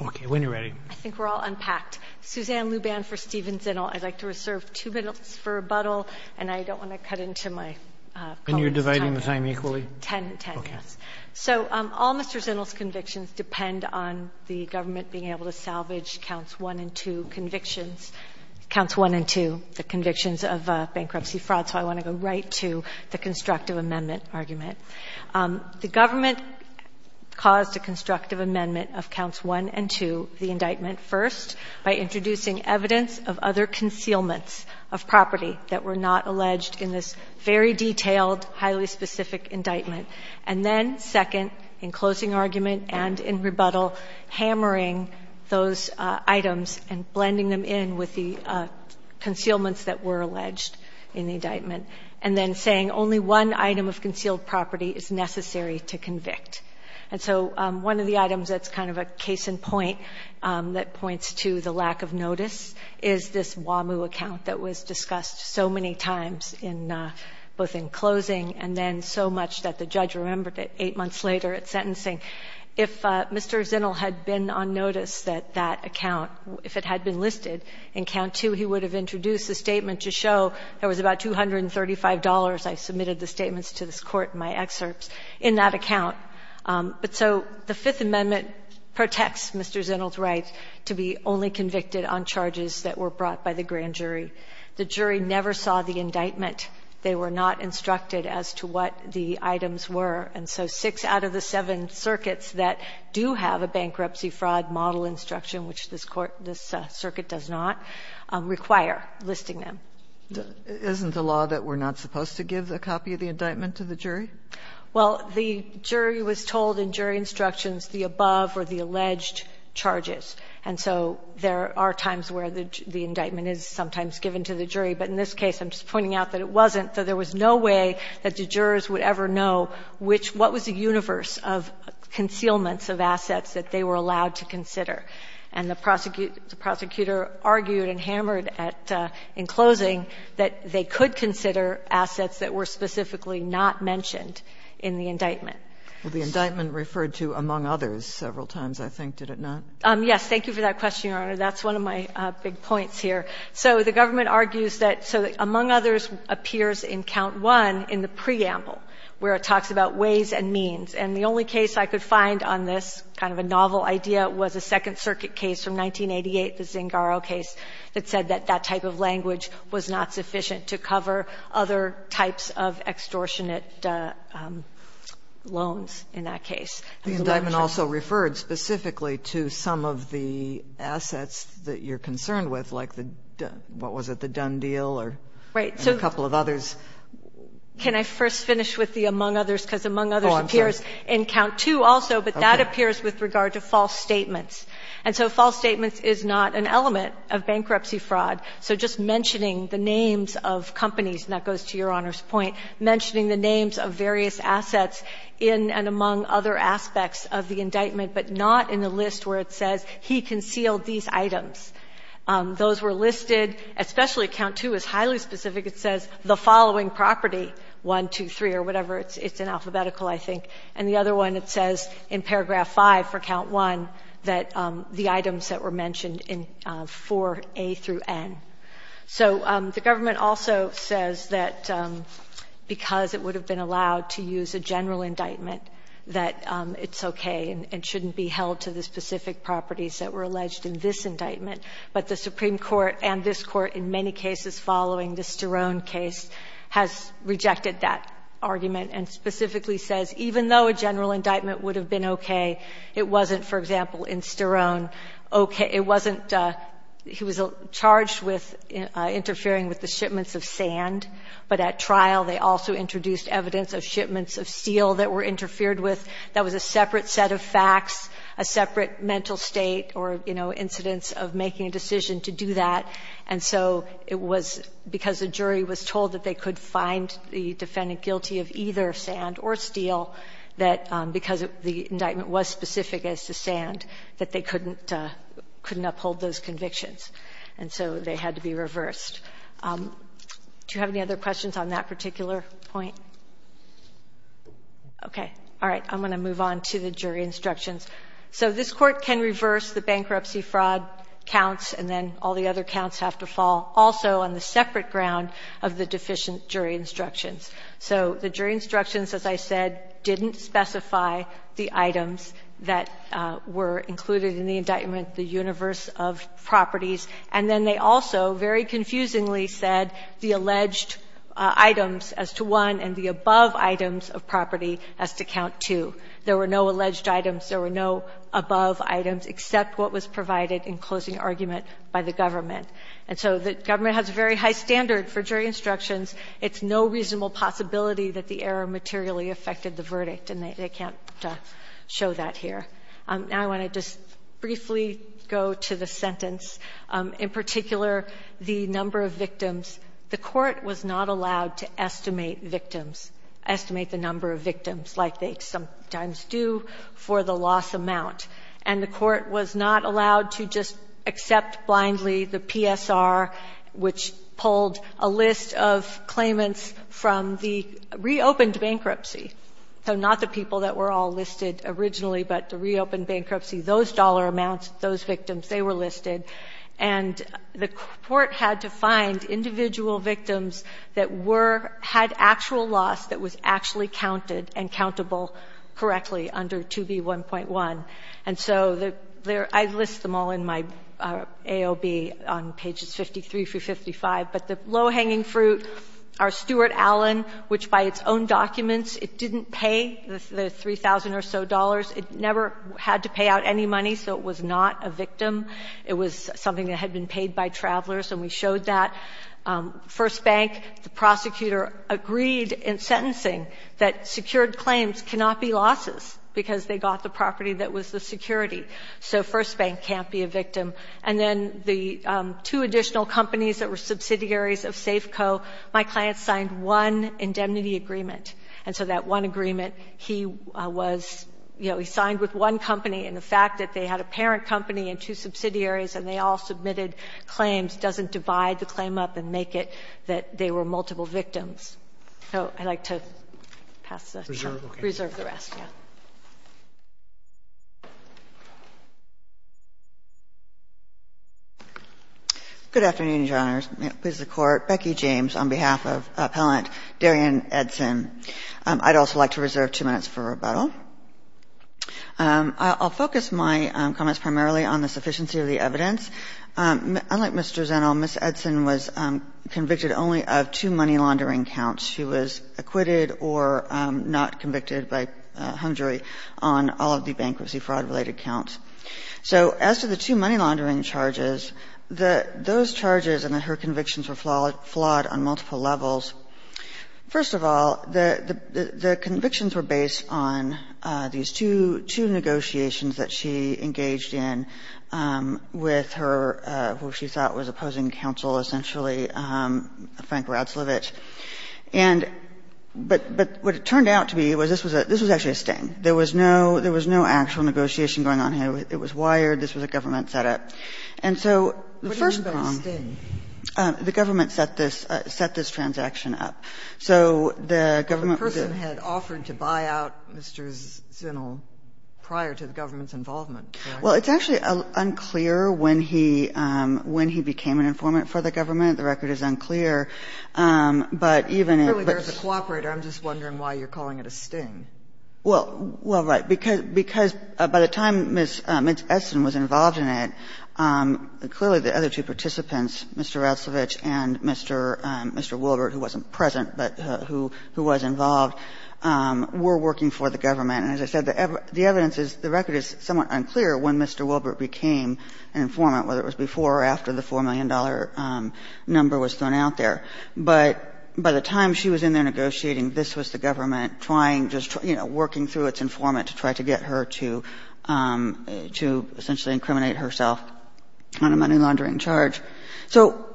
All Mr. Zinnel's convictions depend on the government being able to salvage counts 1 and 2, the convictions of bankruptcy fraud, so I want to go right to the constructive amendment argument. The government caused a constructive amendment of counts 1 and 2, the indictment first, by introducing evidence of other concealments of property that were not alleged in this very detailed, highly specific indictment. And then second, in closing argument and in rebuttal, hammering those items and blending them in with the concealments that were alleged in the indictment, and then saying only one item of concealed property is necessary to convict. And so one of the items that's kind of a case in point that points to the lack of notice is this WAMU account that was discussed so many times in both in closing and then so much that the judge remembered it eight months later at sentencing. If Mr. Zinnel had been on notice that that account, if it had been listed in count 2, he would have introduced a statement to show there was about $235, I submitted the statements to this Court in my excerpts, in that account. But so the Fifth Amendment protects Mr. Zinnel's right to be only convicted on charges that were brought by the grand jury. The jury never saw the indictment. They were not instructed as to what the items were. And so six out of the seven circuits that do have a bankruptcy fraud model instruction, which this circuit does not, require listing them. Isn't the law that we're not supposed to give a copy of the indictment to the jury? Well, the jury was told in jury instructions the above were the alleged charges. And so there are times where the indictment is sometimes given to the jury. But in this case, I'm just pointing out that it wasn't, that there was no way that the jurors would ever know which, what was the universe of concealments of assets that they were allowed to consider. And the prosecutor argued and hammered at, in closing, that they could consider assets that were specifically not mentioned in the indictment. Well, the indictment referred to among others several times, I think, did it not? Yes. Thank you for that question, Your Honor. That's one of my big points here. So the government argues that, so among others appears in count one in the preamble where it talks about ways and means. And the only case I could find on this kind of a novel idea was a Second Circuit case from 1988, the Zingaro case, that said that that type of language was not sufficient to cover other types of extortionate loans in that case. The indictment also referred specifically to some of the assets that you're concerned with, like the, what was it, the Dunn deal or a couple of others. Can I first finish with the among others, because among others appears in count two also, but that appears with regard to false statements. And so false statements is not an element of bankruptcy fraud. So just mentioning the names of companies, and that goes to Your Honor's point, mentioning the names of various assets in and among other aspects of the indictment, but not in the list where it says he concealed these items. Those were listed, especially count two is highly specific. It says the following property, 1, 2, 3, or whatever. It's in alphabetical, I think. And the other one, it says in paragraph five for count one that the items that were mentioned in 4A through N. So the government also says that because it would have been allowed to use a general indictment, that it's okay and shouldn't be held to the specific properties that were alleged in this indictment. But the Supreme Court and this Court, in many cases following the Sterone case, has rejected that argument and specifically says even though a general indictment would have been okay, it wasn't, for example, in Sterone. It wasn't, he was charged with interfering with the shipments of sand. But at trial, they also introduced evidence of shipments of steel that were interfered with. That was a separate set of facts, a separate mental state or, you know, incidence of making a decision to do that. And so it was because the jury was told that they could find the defendant guilty of either sand or steel, that because the indictment was specific as to sand, that they couldn't uphold those convictions. And so they had to be reversed. Do you have any other questions on that particular point? Okay. All right. I'm going to move on to the jury instructions. So this Court can reverse the bankruptcy fraud counts and then all the other counts have to fall also on the separate ground of the deficient jury instructions. So the jury instructions, as I said, didn't specify the items that were included in the indictment, the universe of properties. And then they also very confusingly said the alleged items as to one and the above items of property as to count two. There were no alleged items. There were no above items except what was provided in closing argument by the government. And so the government has a very high standard for jury instructions. It's no reasonable possibility that the error materially affected the verdict. And they can't show that here. Now I want to just briefly go to the sentence. In particular, the number of victims, the Court was not allowed to estimate victims, estimate the number of victims like they sometimes do for the loss amount. And the Court was not allowed to just accept blindly the PSR, which pulled a list of claimants from the reopened bankruptcy. So not the people that were all listed originally, but the reopened bankruptcy, those dollar amounts, those victims, they were listed. And the Court had to find individual victims that were, had actual loss that was actually counted and countable correctly under 2B1.1. And so I list them all in my AOB on pages 53 through 55. But the low-hanging fruit are Stuart Allen, which by its own documents, it didn't pay the 3,000 or so dollars. It never had to pay out any money, so it was not a victim. It was something that had been paid by travelers, and we showed that. First Bank, the prosecutor, agreed in sentencing that secured claims cannot be losses because they got the property that was the security. So First Bank can't be a victim. And then the two additional companies that were subsidiaries of Safeco, my client signed one indemnity agreement. And so that one agreement, he was, you know, he signed with one company, and the fact that they had a parent company and two subsidiaries and they all submitted claims doesn't divide the claim up and make it that they were multiple victims. So I'd like to pass this up. Roberts. Good afternoon, Your Honors. May it please the Court. Becky James on behalf of Appellant Darian Edson. I'd also like to reserve two minutes for rebuttal. I'll focus my comments primarily on the sufficiency of the evidence. Unlike Mr. Zennel, Ms. Edson was convicted only of two money laundering counts. She was acquitted or not convicted by hung jury on all of the bankruptcy fraud-related counts. So as to the two money laundering charges, those charges and her convictions were flawed on multiple levels. First of all, the convictions were based on these two negotiations that she engaged in with her, who she thought was opposing counsel essentially, Frank Radslevich. And but what it turned out to be was this was actually a sting. There was no actual negotiation going on here. It was wired. This was a government setup. And so the first prong. Sotomayor. What do you mean by a sting? The government set this transaction up. So the government was in. But the person had offered to buy out Mr. Zennel prior to the government's involvement, correct? Well, it's actually unclear when he when he became an informant for the government. The record is unclear. But even in. Clearly there's a cooperator. I'm just wondering why you're calling it a sting. Well, right. Because by the time Ms. Edson was involved in it, clearly the other two participants, Mr. Radslevich and Mr. Wilbert, who wasn't present but who was involved, were working for the government. And as I said, the evidence is the record is somewhat unclear when Mr. Wilbert became an informant, whether it was before or after the $4 million number was thrown out there. But by the time she was in there negotiating, this was the government trying, just working through its informant to try to get her to essentially incriminate herself on a money laundering charge. So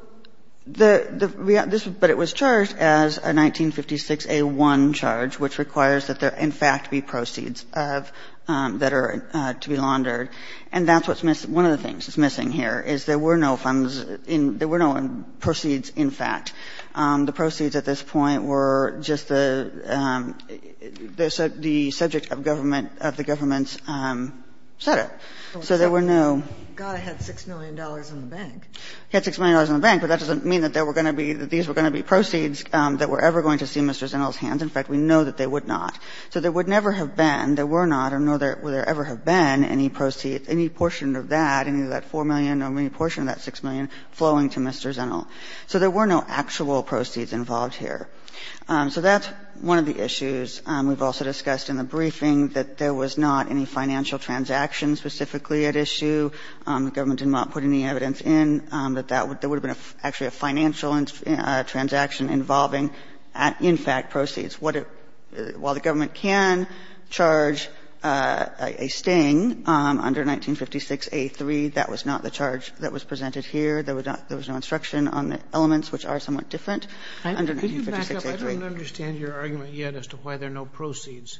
the, this, but it was charged as a 1956A1 charge, which requires that there in fact be proceeds of, that are to be laundered. And that's what's missing. One of the things that's missing here is there were no funds in, there were no proceeds, in fact. The proceeds at this point were just the, the subject of government, of the government's setup. So there were no. Sotomayor, got to have $6 million in the bank. Had $6 million in the bank, but that doesn't mean that there were going to be, that these were going to be proceeds that were ever going to see Mr. Zennel's hands. In fact, we know that they would not. So there would never have been, there were not, nor will there ever have been any proceeds, any portion of that, any of that $4 million or any portion of that $6 million flowing to Mr. Zennel. So there were no actual proceeds involved here. So that's one of the issues. We've also discussed in the briefing that there was not any financial transaction specifically at issue. The government did not put any evidence in that there would have been actually a financial transaction involving, in fact, proceeds. While the government can charge a sting under 1956A3, that was not the charge that was presented here. There was no instruction on the elements, which are somewhat different under 1956A3. I don't understand your argument yet as to why there are no proceeds.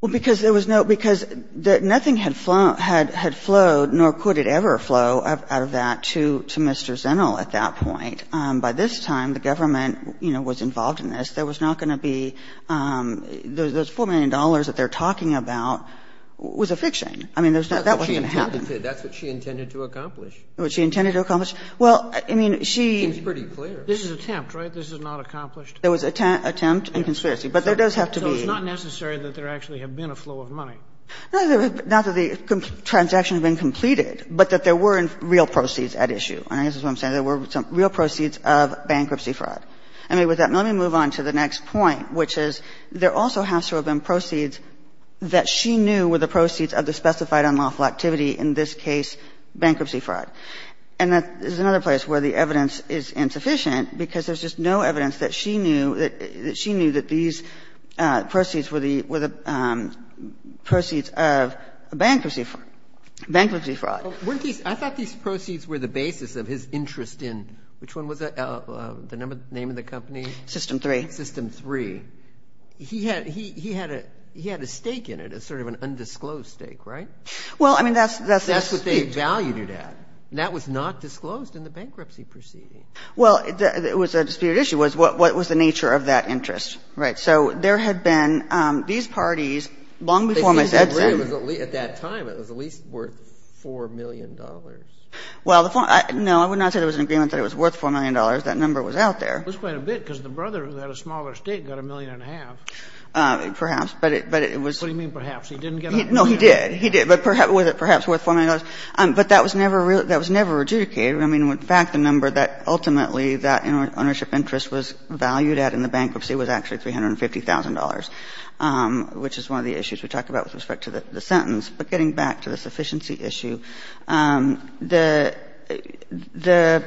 Well, because there was no, because nothing had flowed, nor could it ever flow out of that to Mr. Zennel at that point. By this time, the government, you know, was involved in this. There was not going to be, those $4 million that they're talking about was a fiction. I mean, there's not, that wasn't going to happen. That's what she intended to accomplish. What she intended to accomplish? Well, I mean, she. Seems pretty clear. This is attempt, right? This is not accomplished? There was attempt and conspiracy. But there does have to be. So it's not necessary that there actually have been a flow of money? No, not that the transaction had been completed, but that there were real proceeds at issue. And I guess that's what I'm saying. There were some real proceeds of bankruptcy fraud. I mean, with that, let me move on to the next point, which is there also has to have been proceeds that she knew were the proceeds of the specified unlawful activity, in this case bankruptcy fraud. And that is another place where the evidence is insufficient, because there's just no evidence that she knew, that she knew that these proceeds were the, were the proceeds of bankruptcy fraud. Bankruptcy fraud. Weren't these, I thought these proceeds were the basis of his interest in, which one was that, the number, the name of the company? System 3. System 3. He had, he had a, he had a stake in it, a sort of an undisclosed stake, right? Well, I mean, that's, that's the stake. That's what they valued it at. And that was not disclosed in the bankruptcy proceeding. Well, it was a disputed issue, was what was the nature of that interest, right? So there had been, these parties, long before Miss Edson. They seemed to agree it was at least, at that time, it was at least worth $4 million. Well, the, no, I would not say there was an agreement that it was worth $4 million. That number was out there. It was quite a bit, because the brother who had a smaller estate got a million and a half. Perhaps, but it, but it was. What do you mean perhaps? He didn't get a million? No, he did. He did. But was it perhaps worth $4 million? But that was never, that was never adjudicated. I mean, in fact, the number that ultimately that ownership interest was valued at in the bankruptcy was actually $350,000, which is one of the issues we talk about with respect to the sentence. But getting back to the sufficiency issue, the, the,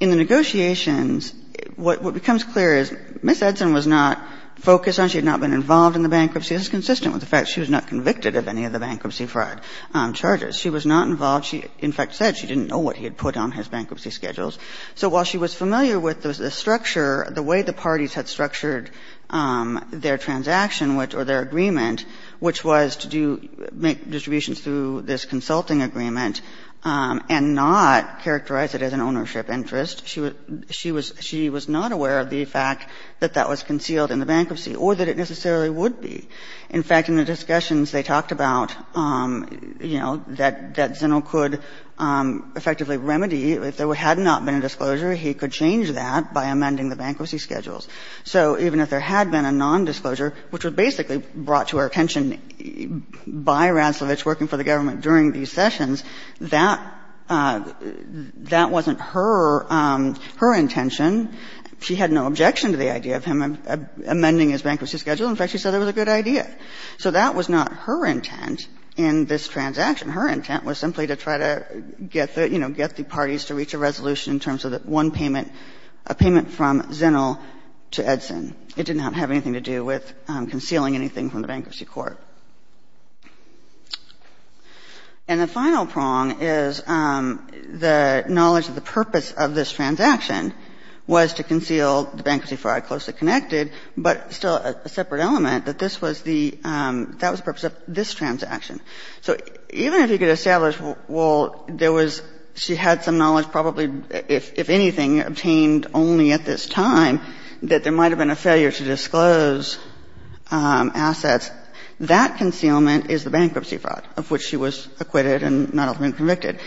in the negotiations, what becomes clear is Miss Edson was not focused on, she had not been involved in the bankruptcy. This is consistent with the fact she was not convicted of any of the bankruptcy fraud charges. She was not involved. She, in fact, said she didn't know what he had put on his bankruptcy schedules. So while she was familiar with the structure, the way the parties had structured their transaction, which, or their agreement, which was to do, make distributions through this consulting agreement and not characterize it as an ownership interest, she was, she was not aware of the fact that that was concealed in the bankruptcy or that it necessarily would be. In fact, in the discussions, they talked about, you know, that Zinnel could effectively remedy, if there had not been a disclosure, he could change that by amending the bankruptcy schedules. So even if there had been a nondisclosure, which was basically brought to our attention by Radsovich working for the government during these sessions, that, that wasn't her, her intention. She had no objection to the idea of him amending his bankruptcy schedule. In fact, she said it was a good idea. So that was not her intent in this transaction. Her intent was simply to try to get the, you know, get the parties to reach a resolution in terms of one payment, a payment from Zinnel to Edson. It did not have anything to do with concealing anything from the Bankruptcy Court. And the final prong is the knowledge of the purpose of this transaction was to conceal the bankruptcy fraud closely connected, but still a separate element, that this was the, that was the purpose of this transaction. So even if you could establish, well, there was, she had some knowledge, probably if, if anything, obtained only at this time, that there might have been a failure to disclose assets, that concealment is the bankruptcy fraud of which she was acquitted and not ultimately convicted.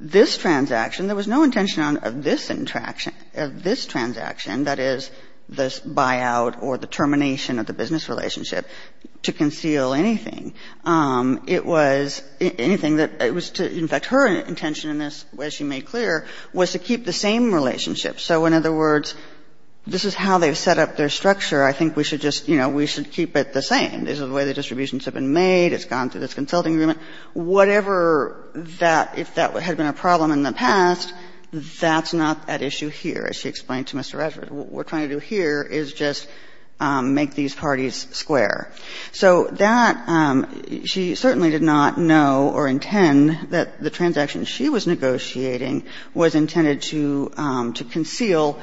This transaction, there was no intention on, of this interaction, of this transaction, that is, this buyout or the termination of the business relationship, to conceal anything. It was anything that, it was to, in fact, her intention in this, as she made clear, was to keep the same relationship. So in other words, this is how they've set up their structure. I think we should just, you know, we should keep it the same. This is the way the distributions have been made. It's gone through this consulting agreement. Whatever that, if that had been a problem in the past, that's not at issue here, as she explained to Mr. Radsford. What we're trying to do here is just make these parties square. So that, she certainly did not know or intend that the transaction she was negotiating was intended to, to conceal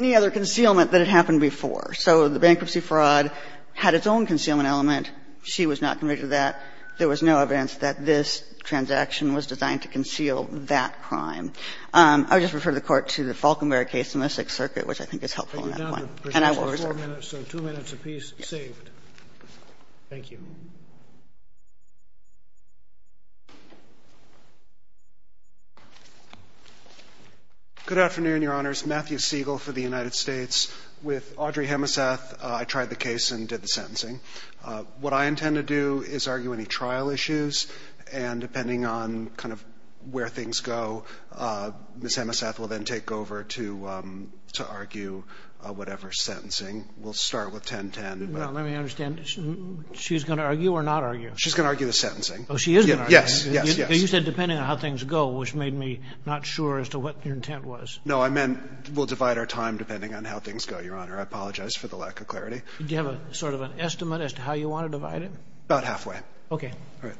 any other concealment that had happened before. So the bankruptcy fraud had its own concealment element. She was not convicted of that. There was no evidence that this transaction was designed to conceal that crime. I would just refer the Court to the Falkenberry case in the Sixth Circuit, which I think is helpful in that point. And I will reserve it. Roberts, so two minutes apiece saved. Thank you. Good afternoon, Your Honors. Matthew Siegel for the United States. With Audrey Hemeseth, I tried the case and did the sentencing. What I intend to do is argue any trial issues. And depending on kind of where things go, Ms. Hemeseth will then take over to, to argue whatever sentencing. We'll start with 1010. No, let me understand. She's going to argue or not argue? She's going to argue the sentencing. Oh, she is going to argue? Yes, yes, yes. You said depending on how things go, which made me not sure as to what your intent was. No, I meant we'll divide our time depending on how things go, Your Honor. I apologize for the lack of clarity. Do you have a sort of an estimate as to how you want to divide it? About halfway. Okay. All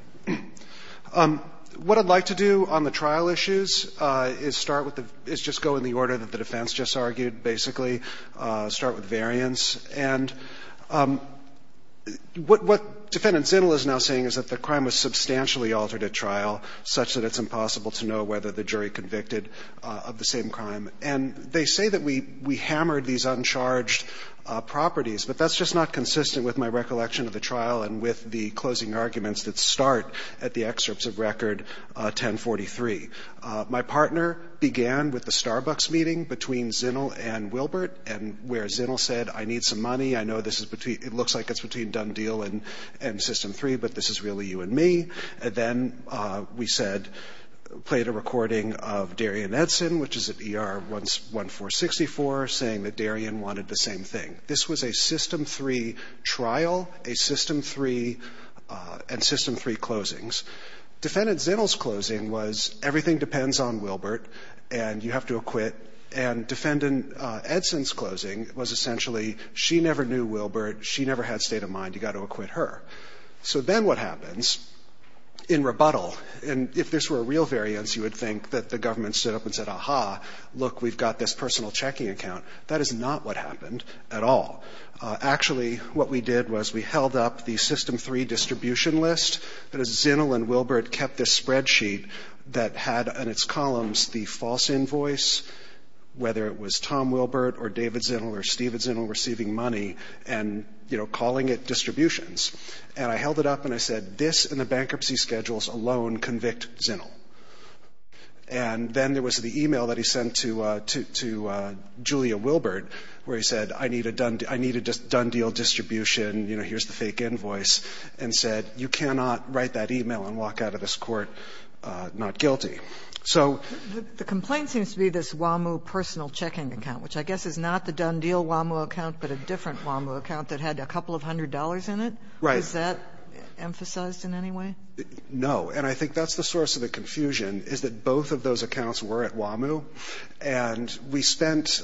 right. What I'd like to do on the trial issues is start with the, is just go in the order that the defense just argued. Basically, start with variance. And what, what defendant Zinnel is now saying is that the crime was substantially altered at trial, such that it's impossible to know whether the jury convicted of the same crime. And they say that we, we hammered these uncharged properties. But that's just not consistent with my recollection of the trial, and with the closing arguments that start at the excerpts of Record 1043. My partner began with the Starbucks meeting between Zinnel and Wilbert, and where Zinnel said, I need some money, I know this is between, it looks like it's between Done Deal and, and System 3, but this is really you and me. Then we said, played a recording of Darian Edson, which is at ER 1464, saying that Darian wanted the same thing. This was a System 3 trial, a System 3, and System 3 closings. Defendant Zinnel's closing was, everything depends on Wilbert, and you have to acquit. And defendant Edson's closing was essentially, she never knew Wilbert, she never had state of mind, you got to acquit her. So then what happens in rebuttal, and if this were a real variance, you would think that the government stood up and said, aha, look, we've got this personal checking account. That is not what happened at all. Actually, what we did was we held up the System 3 distribution list, but Zinnel and Wilbert kept this spreadsheet that had on its columns the false invoice, whether it was Tom Wilbert or David Zinnel or Stephen Zinnel receiving money, and, you know, calling it distributions. And I held it up and I said, this and the bankruptcy schedules alone convict Zinnel. And then there was the e-mail that he sent to Julia Wilbert where he said, I need a done deal distribution, you know, here's the fake invoice, and said, you cannot write that e-mail and walk out of this court not guilty. So the complaint seems to be this WAMU personal checking account, which I guess is not the done deal WAMU account, but a different WAMU account that had a couple of hundred dollars in it. Right. Is that emphasized in any way? No. And I think that's the source of the confusion is that both of those accounts were at WAMU, and we spent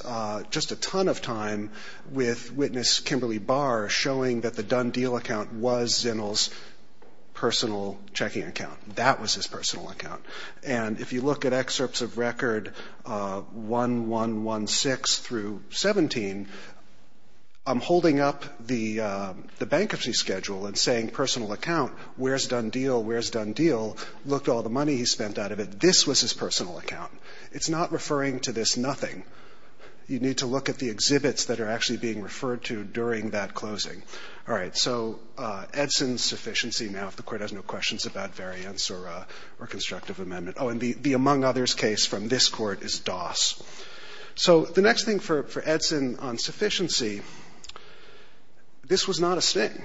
just a ton of time with witness Kimberly Barr showing that the done deal account was Zinnel's personal checking account. That was his personal account. And if you look at excerpts of record 1116 through 17, I'm holding up the bankruptcy schedule and saying personal account, where's done deal, where's done deal, look at all the money he spent out of it. This was his personal account. It's not referring to this nothing. You need to look at the exhibits that are actually being referred to during that closing. All right. So Edson's sufficiency now if the court has no questions about variance or constructive amendment. Oh, and the among others case from this court is Doss. So the next thing for Edson on sufficiency, this was not a sting.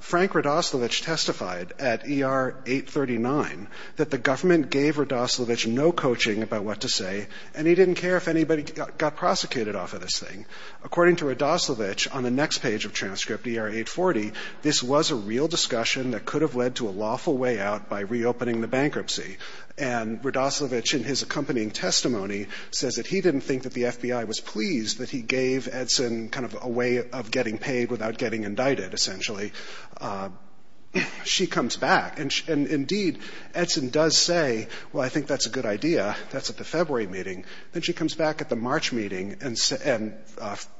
Frank Radoslovich testified at ER 839 that the government gave Radoslovich no coaching about what to say, and he didn't care if anybody got prosecuted off of this thing. According to Radoslovich on the next page of transcript, ER 840, this was a real discussion that could have led to a lawful way out by reopening the bankruptcy. And Radoslovich, in his accompanying testimony, says that he didn't think that the FBI was pleased that he gave Edson kind of a way of getting paid without getting indicted, essentially. She comes back, and indeed, Edson does say, well, I think that's a good idea. That's at the February meeting. Then she comes back at the March meeting and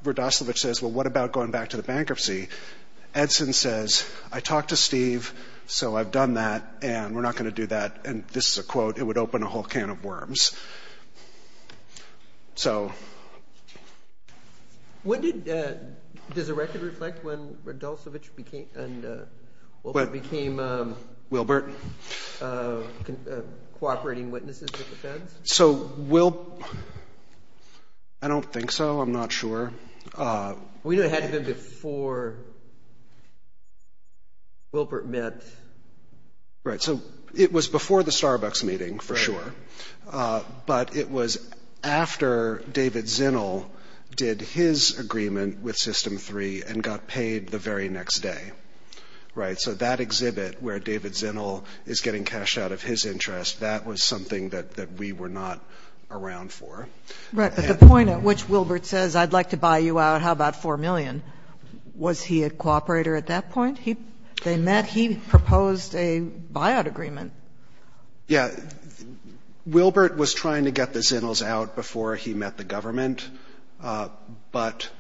Radoslovich says, well, what about going back to the bankruptcy? Edson says, I talked to Steve, so I've done that, and we're not going to do that, and this is a quote, it would open a whole can of worms. Does the record reflect when Radoslovich and Wilbert became cooperating witnesses with the feds? I don't think so. I'm not sure. We know it had to have been before Wilbert met. Right, so it was before the Starbucks meeting, for sure, but it was after David Zinnel did his agreement with System 3 and got paid the very next day. Right, so that exhibit where David Zinnel is getting cashed out of his interest, that was something that we were not around for. Right, but the point at which Wilbert says, I'd like to buy you out, how about $4 million, was he a cooperator at that point? They met. He proposed a buyout agreement. Yeah. Wilbert was trying to get the Zinnels out before he met the government, but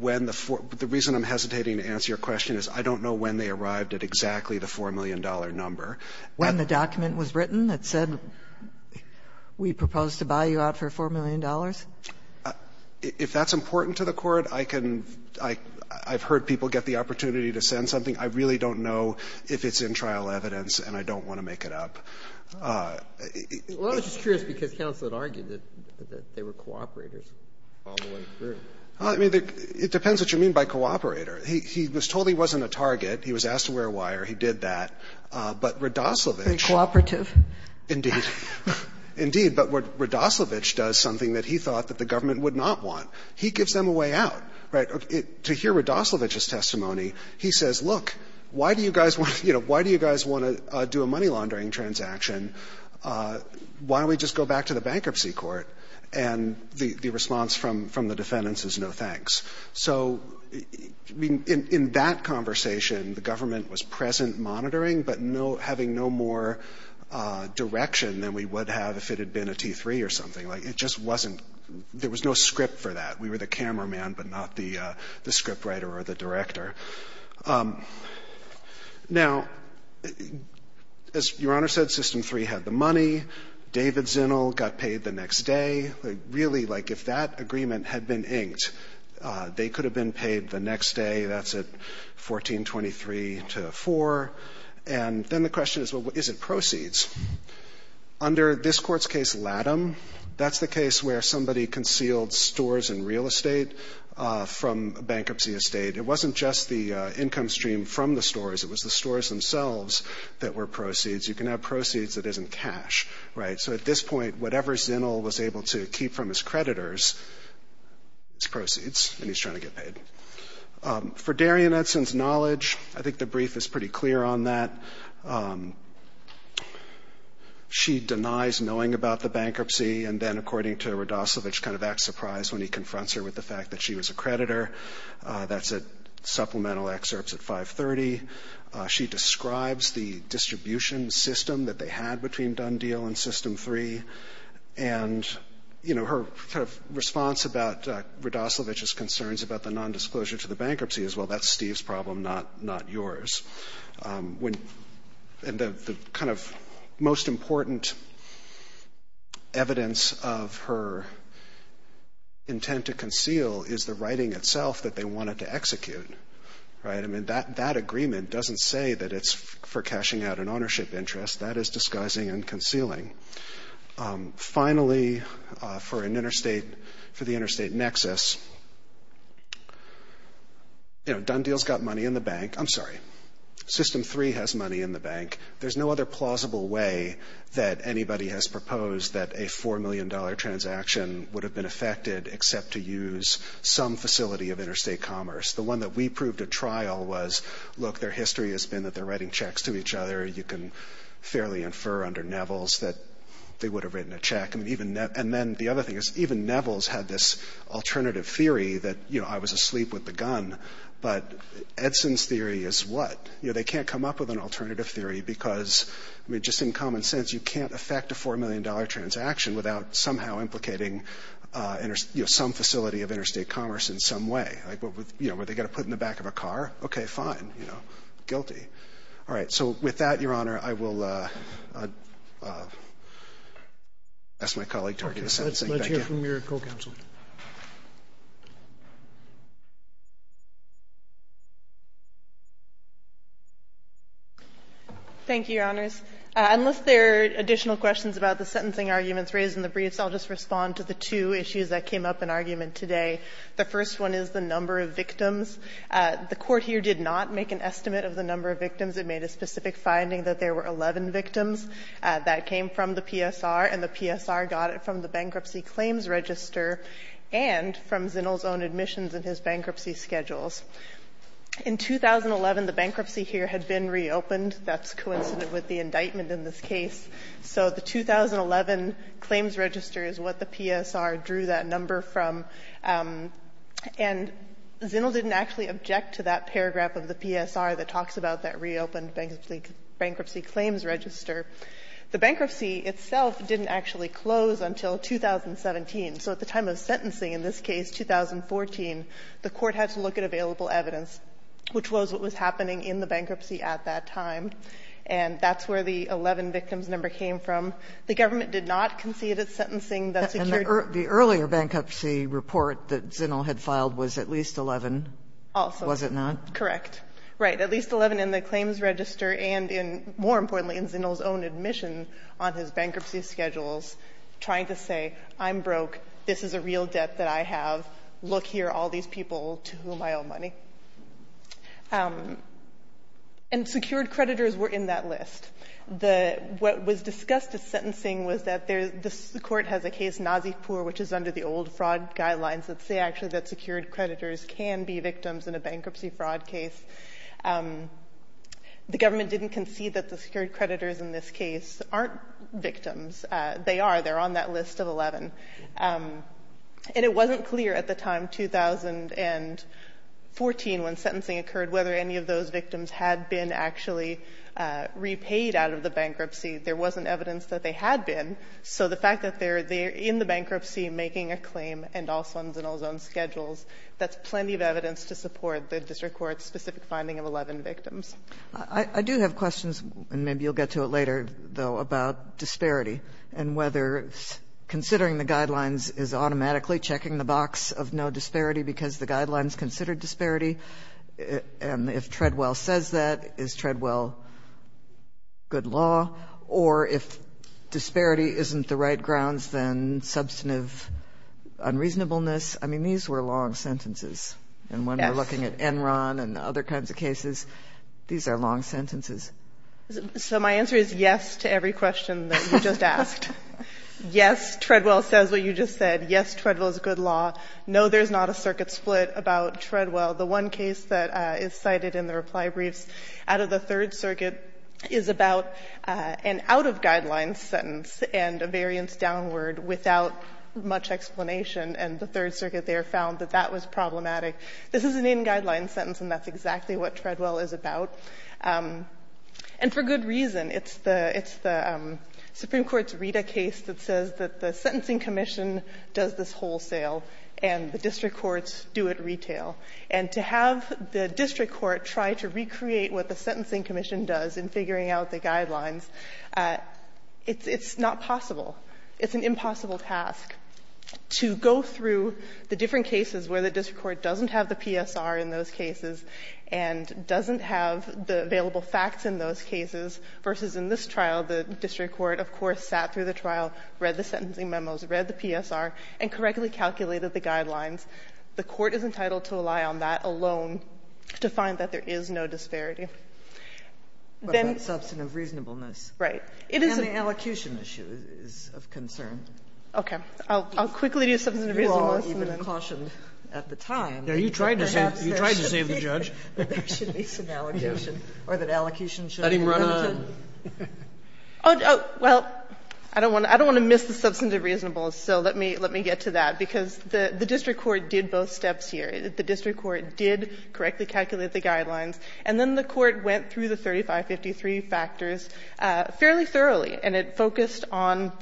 when the reason I'm hesitating to answer your question is I don't know when they arrived at exactly the $4 million number. When the document was written that said, we propose to buy you out for $4 million? If that's important to the Court, I can – I've heard people get the opportunity to send something. I really don't know if it's in trial evidence, and I don't want to make it up. Well, I was just curious, because counsel had argued that they were cooperators all the way through. Well, I mean, it depends what you mean by cooperator. He was told he wasn't a target. He was asked to wear a wire. He did that. But Radoslavich. Very cooperative. Indeed. Indeed. But Radoslavich does something that he thought that the government would not want. He gives them a way out. Right? To hear Radoslavich's testimony, he says, look, why do you guys want to do a money laundering transaction? Why don't we just go back to the bankruptcy court? And the response from the defendants is no thanks. So in that conversation, the government was present monitoring, but having no more direction than we would have if it had been a T3 or something. It just wasn't – there was no script for that. We were the cameraman, but not the script writer or the director. Now, as Your Honor said, System 3 had the money. David Zinnel got paid the next day. Really, like, if that agreement had been inked, they could have been paid the next day. That's at 1423 to 4. And then the question is, well, is it proceeds? Under this court's case, Latham, that's the case where somebody concealed stores and real estate from bankruptcy estate. It wasn't just the income stream from the stores. It was the stores themselves that were proceeds. You can have proceeds that isn't cash. Right? So at this point, whatever Zinnel was able to keep from his creditors is proceeds, and he's trying to get paid. For Darian Edson's knowledge, I think the brief is pretty clear on that. She denies knowing about the bankruptcy, and then, according to Rudoslovich, kind of acts surprised when he confronts her with the fact that she was a creditor. That's at – supplemental excerpts at 530. She describes the distribution system that they had between Dundeal and System 3. And, you know, her response about Rudoslovich's concerns about the nondisclosure to the bankruptcy is, well, that's Steve's problem, not yours. And the kind of most important evidence of her intent to conceal is the writing itself that they wanted to execute. Right? I mean, that agreement doesn't say that it's for cashing out an ownership interest. That is disguising and concealing. Finally, for an interstate – for the interstate nexus, you know, Dundeal's got money in the bank. I'm sorry. System 3 has money in the bank. There's no other plausible way that anybody has proposed that a $4 million transaction would have been effected except to use some facility of interstate commerce. The one that we proved at trial was, look, their history has been that they're writing checks to each other. You can fairly infer under Neville's that they would have written a check. And then the other thing is even Neville's had this alternative theory that, you know, I was asleep with the gun. But Edson's theory is what? You know, they can't come up with an alternative theory because, I mean, just in common sense you can't effect a $4 million transaction without somehow implicating, you know, some facility of interstate commerce in some way. Like, you know, were they going to put it in the back of a car? Okay, fine. You know, guilty. All right. So with that, Your Honor, I will ask my colleague to argue the sentencing. Thank you. Let's hear from your co-counsel. Thank you, Your Honors. Unless there are additional questions about the sentencing arguments raised in the briefs, I'll just respond to the two issues that came up in argument today. The first one is the number of victims. The court here did not make an estimate of the number of victims. It made a specific finding that there were 11 victims. That came from the PSR, and the PSR got it from the bankruptcy claims register and from Zinnle's own admissions and his bankruptcy schedules. In 2011, the bankruptcy here had been reopened. That's coincident with the indictment in this case. So the 2011 claims register is what the PSR drew that number from. And Zinnle didn't actually object to that paragraph of the PSR that talks about that reopened bankruptcy claims register. The bankruptcy itself didn't actually close until 2017. So at the time of sentencing in this case, 2014, the court had to look at available evidence, which was what was happening in the bankruptcy at that time. And that's where the 11 victims number came from. The government did not concede its sentencing. The earlier bankruptcy report that Zinnle had filed was at least 11, was it not? Correct. Right. At least 11 in the claims register and, more importantly, in Zinnle's own admission on his bankruptcy schedules, trying to say, I'm broke. This is a real debt that I have. Look here, all these people to whom I owe money. And secured creditors were in that list. What was discussed at sentencing was that the court has a case, Nazifpur, which is under the old fraud guidelines that say actually that secured creditors can be victims in a bankruptcy fraud case. The government didn't concede that the secured creditors in this case aren't victims. They are. They're on that list of 11. And it wasn't clear at the time, 2014, when sentencing occurred, whether any of those there wasn't evidence that they had been. So the fact that they're in the bankruptcy making a claim and also in Zinnle's own schedules, that's plenty of evidence to support the district court's specific finding of 11 victims. I do have questions, and maybe you'll get to it later, though, about disparity and whether considering the guidelines is automatically checking the box of no disparity because the guidelines consider disparity. And if Treadwell says that, is Treadwell good law? Or if disparity isn't the right grounds, then substantive unreasonableness. I mean, these were long sentences. And when we're looking at Enron and other kinds of cases, these are long sentences. So my answer is yes to every question that you just asked. Yes, Treadwell says what you just said. Yes, Treadwell is good law. No, there's not a circuit split about Treadwell. The one case that is cited in the reply briefs out of the Third Circuit is about an out-of-guidelines sentence and a variance downward without much explanation. And the Third Circuit there found that that was problematic. This is an in-guidelines sentence, and that's exactly what Treadwell is about. And for good reason. It's the Supreme Court's Rita case that says that the sentencing commission does this wholesale and the district courts do it retail. And to have the district court try to recreate what the sentencing commission does in figuring out the guidelines, it's not possible. It's an impossible task to go through the different cases where the district court doesn't have the PSR in those cases and doesn't have the available facts in those cases, versus in this trial, the district court, of course, sat through the trial, read the sentencing memos, read the PSR, and correctly calculated the guidelines. The Court is entitled to rely on that alone to find that there is no disparity. Then the substantive reasonableness. Right. And the allocution issue is of concern. Okay. I'll quickly do substantive reasonableness. You are even cautioned at the time. You tried to save the judge. There should be some allocation. Or that allocution should be conducted. Let him run on. Well, I don't want to miss the substantive reasonableness, so let me get to that. Because the district court did both steps here. The district court did correctly calculate the guidelines. And then the Court went through the 3553 factors fairly thoroughly, and it focused on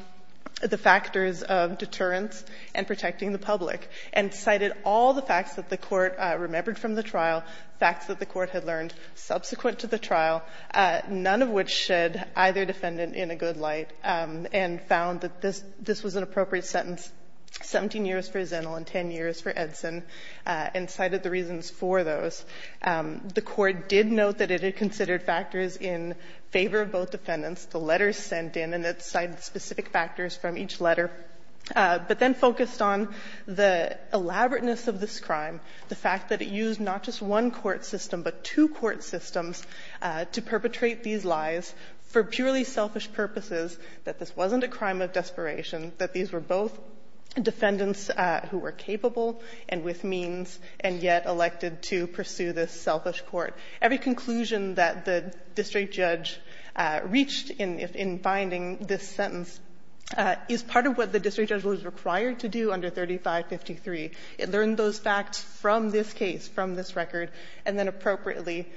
the factors of deterrence and protecting the public, and cited all the facts that the Court remembered from the trial, facts that the Court had learned subsequent to the trial. None of which shed either defendant in a good light, and found that this was an appropriate sentence, 17 years for Zinnel and 10 years for Edson, and cited the reasons for those. The Court did note that it had considered factors in favor of both defendants, the letters sent in, and it cited specific factors from each letter, but then focused on the elaborateness of this crime, the fact that it used not just one court system, but two court systems to perpetrate these lies for purely selfish purposes, that this wasn't a crime of desperation, that these were both defendants who were capable and with means, and yet elected to pursue this selfish court. Every conclusion that the district judge reached in finding this sentence is part of what the district judge was required to do under 3553. It learned those facts from this case, from this record, and then appropriately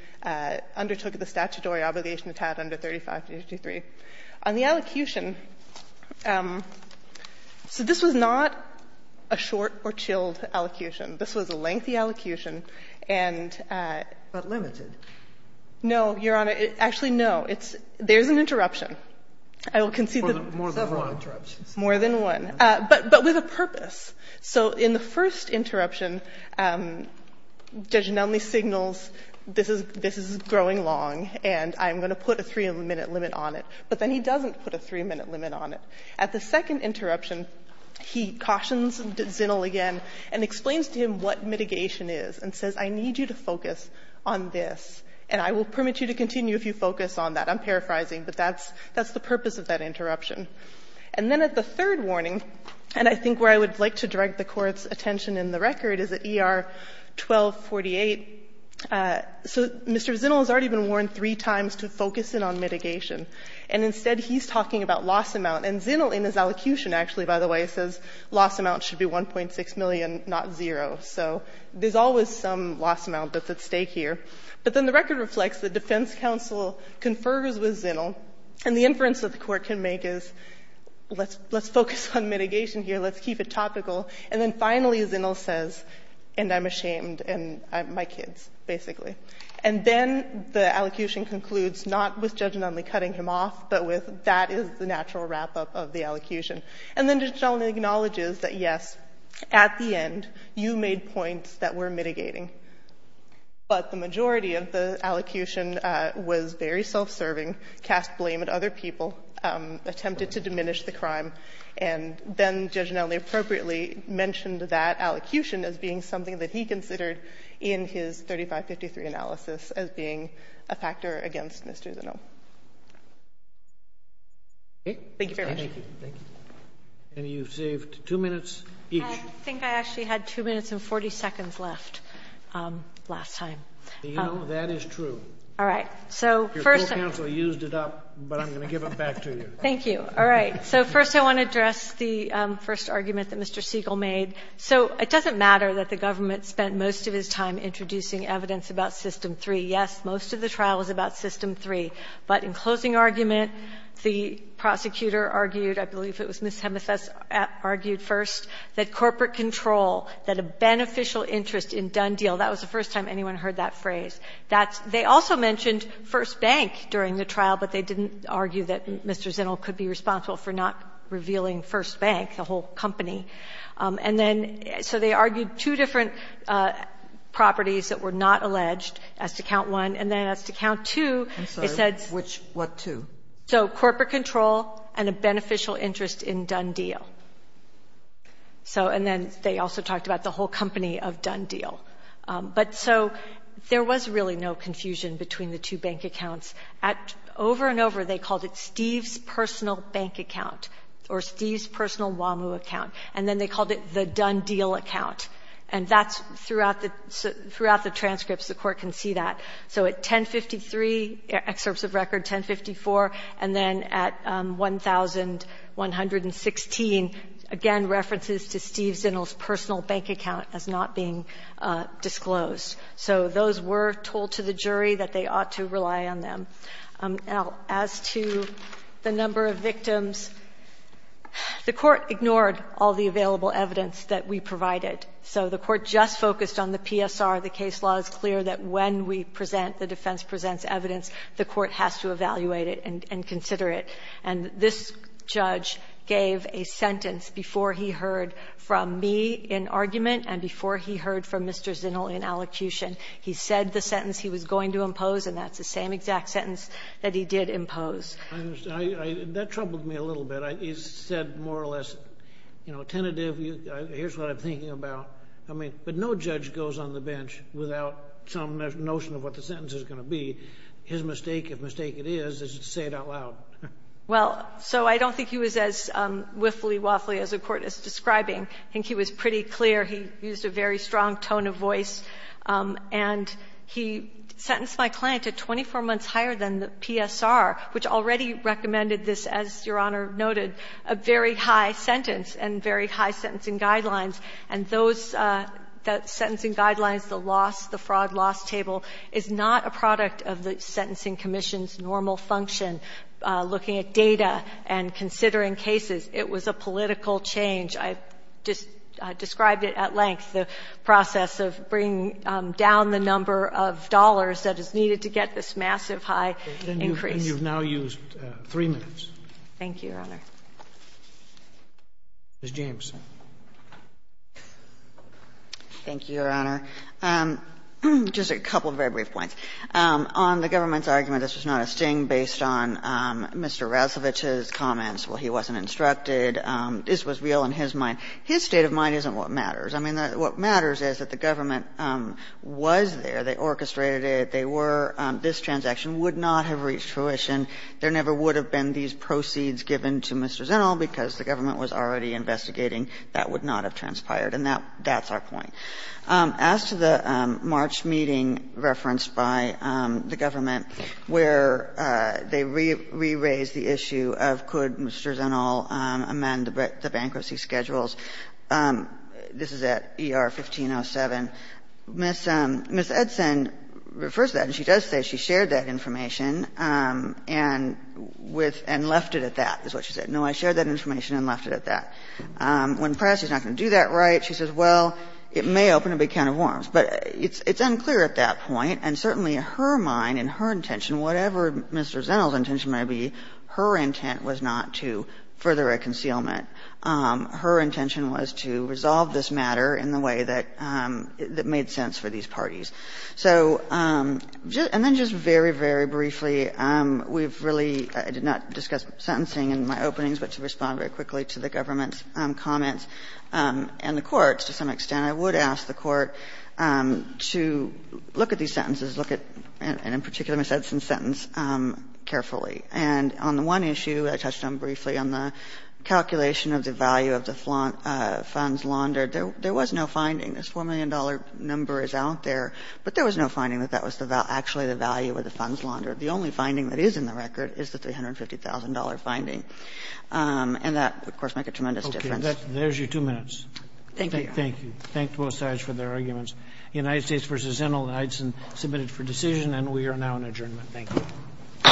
undertook the statutory obligation it had under 3553. On the elocution, so this was not a short or chilled elocution. This was a lengthy elocution. And at the limited. No, Your Honor. Actually, no. There's an interruption. I will concede that several interruptions. More than one. More than one. But with a purpose. So in the first interruption, Judge Nonley signals this is growing long and I'm going to put a three-minute limit on it. But then he doesn't put a three-minute limit on it. At the second interruption, he cautions Zinnel again and explains to him what mitigation is and says I need you to focus on this. And I will permit you to continue if you focus on that. I'm paraphrasing. But that's the purpose of that interruption. And then at the third warning, and I think where I would like to direct the Court's attention in the record is at ER 1248. So Mr. Zinnel has already been warned three times to focus in on mitigation. And instead he's talking about loss amount. And Zinnel in his elocution actually, by the way, says loss amount should be 1.6 million, not zero. So there's always some loss amount that's at stake here. But then the record reflects that defense counsel confers with Zinnel. And the inference that the Court can make is let's focus on mitigation here. Let's keep it topical. And then finally Zinnel says and I'm ashamed and my kids, basically. And then the elocution concludes not with Judge Nunley cutting him off but with that is the natural wrap-up of the elocution. And then Judge Nunley acknowledges that yes, at the end, you made points that were mitigating. But the majority of the elocution was very self-serving, cast blame at other people, attempted to diminish the crime. And then Judge Nunley appropriately mentioned that elocution as being something that he considered in his 3553 analysis as being a factor against Mr. Zinnel. Thank you very much. Thank you. Thank you. And you've saved two minutes each. I think I actually had two minutes and 40 seconds left last time. You know, that is true. All right. Your court counsel used it up, but I'm going to give it back to you. Thank you. All right. So first I want to address the first argument that Mr. Siegel made. So it doesn't matter that the government spent most of his time introducing evidence about System 3. Yes, most of the trial was about System 3. But in closing argument, the prosecutor argued, I believe it was Ms. Hemmeth argued first, that corporate control, that a beneficial interest in Dundee, that was the first time anyone heard that phrase. They also mentioned First Bank during the trial, but they didn't argue that Mr. Zinnel could be responsible for not revealing First Bank, the whole company. And then so they argued two different properties that were not alleged as to count one. And then as to count two, they said. I'm sorry. Which, what two? So corporate control and a beneficial interest in Dundee. So and then they also talked about the whole company of Dundee. But so there was really no confusion between the two bank accounts. Over and over they called it Steve's personal bank account or Steve's personal WAMU account. And then they called it the Dundee account. And that's throughout the transcripts the court can see that. So at 1053, excerpts of record 1054, and then at 1116, again, references to Steve Zinnel's personal bank account as not being disclosed. So those were told to the jury that they ought to rely on them. As to the number of victims, the Court ignored all the available evidence that we provided. So the Court just focused on the PSR. The case law is clear that when we present, the defense presents evidence, the Court has to evaluate it and consider it. And this judge gave a sentence before he heard from me in argument and before he heard from Mr. Zinnel in allocution. He said the sentence he was going to impose, and that's the same exact sentence that he did impose. That troubled me a little bit. He said more or less, you know, tentative, here's what I'm thinking about. I mean, but no judge goes on the bench without some notion of what the sentence is going to be. His mistake, if mistake it is, is to say it out loud. Well, so I don't think he was as wiffly waffly as the Court is describing. I think he was pretty clear. He used a very strong tone of voice. And he sentenced my client to 24 months higher than the PSR, which already recommended this, as Your Honor noted, a very high sentence and very high sentencing guidelines. And those sentencing guidelines, the loss, the fraud loss table, is not a product of the Sentencing Commission's normal function, looking at data and considering cases. It was a political change. I just described it at length, the process of bringing down the number of dollars that is needed to get this massive high increase. And you've now used 3 minutes. Thank you, Your Honor. Ms. James. Thank you, Your Honor. Just a couple of very brief points. On the government's argument this was not a sting based on Mr. Razovich's comments, well, he wasn't instructed, this was real in his mind. His state of mind isn't what matters. I mean, what matters is that the government was there. They orchestrated it. They were this transaction would not have reached fruition. There never would have been these proceeds given to Mr. Zenil because the government was already investigating. That would not have transpired. And that's our point. As to the March meeting referenced by the government where they re-raised the issue of could Mr. Zenil amend the bankruptcy schedules, this is at ER 1507. Ms. Edson refers to that, and she does say she shared that information and with and left it at that is what she said. No, I shared that information and left it at that. When pressed, she's not going to do that right. She says, well, it may open a big can of worms. But it's unclear at that point, and certainly her mind and her intention, whatever Mr. Zenil's intention might be, her intent was not to further a concealment. Her intention was to resolve this matter in the way that made sense for these parties. So and then just very, very briefly, we've really, I did not discuss sentencing in my openings, but to respond very quickly to the government's comments. And the Court, to some extent, I would ask the Court to look at these sentences, look at, and in particular Ms. Edson's sentence, carefully. And on the one issue I touched on briefly, on the calculation of the value of the funds laundered, there was no finding. This $4 million number is out there, but there was no finding that that was actually the value of the funds laundered. The only finding that is in the record is the $350,000 finding. And that, of course, would make a tremendous difference. Okay. There's your two minutes. Thank you, Your Honor. Thank you. Thank both sides for their arguments. United States v. Zenil and Edson submitted for decision, and we are now in adjournment. Thank you. All rise.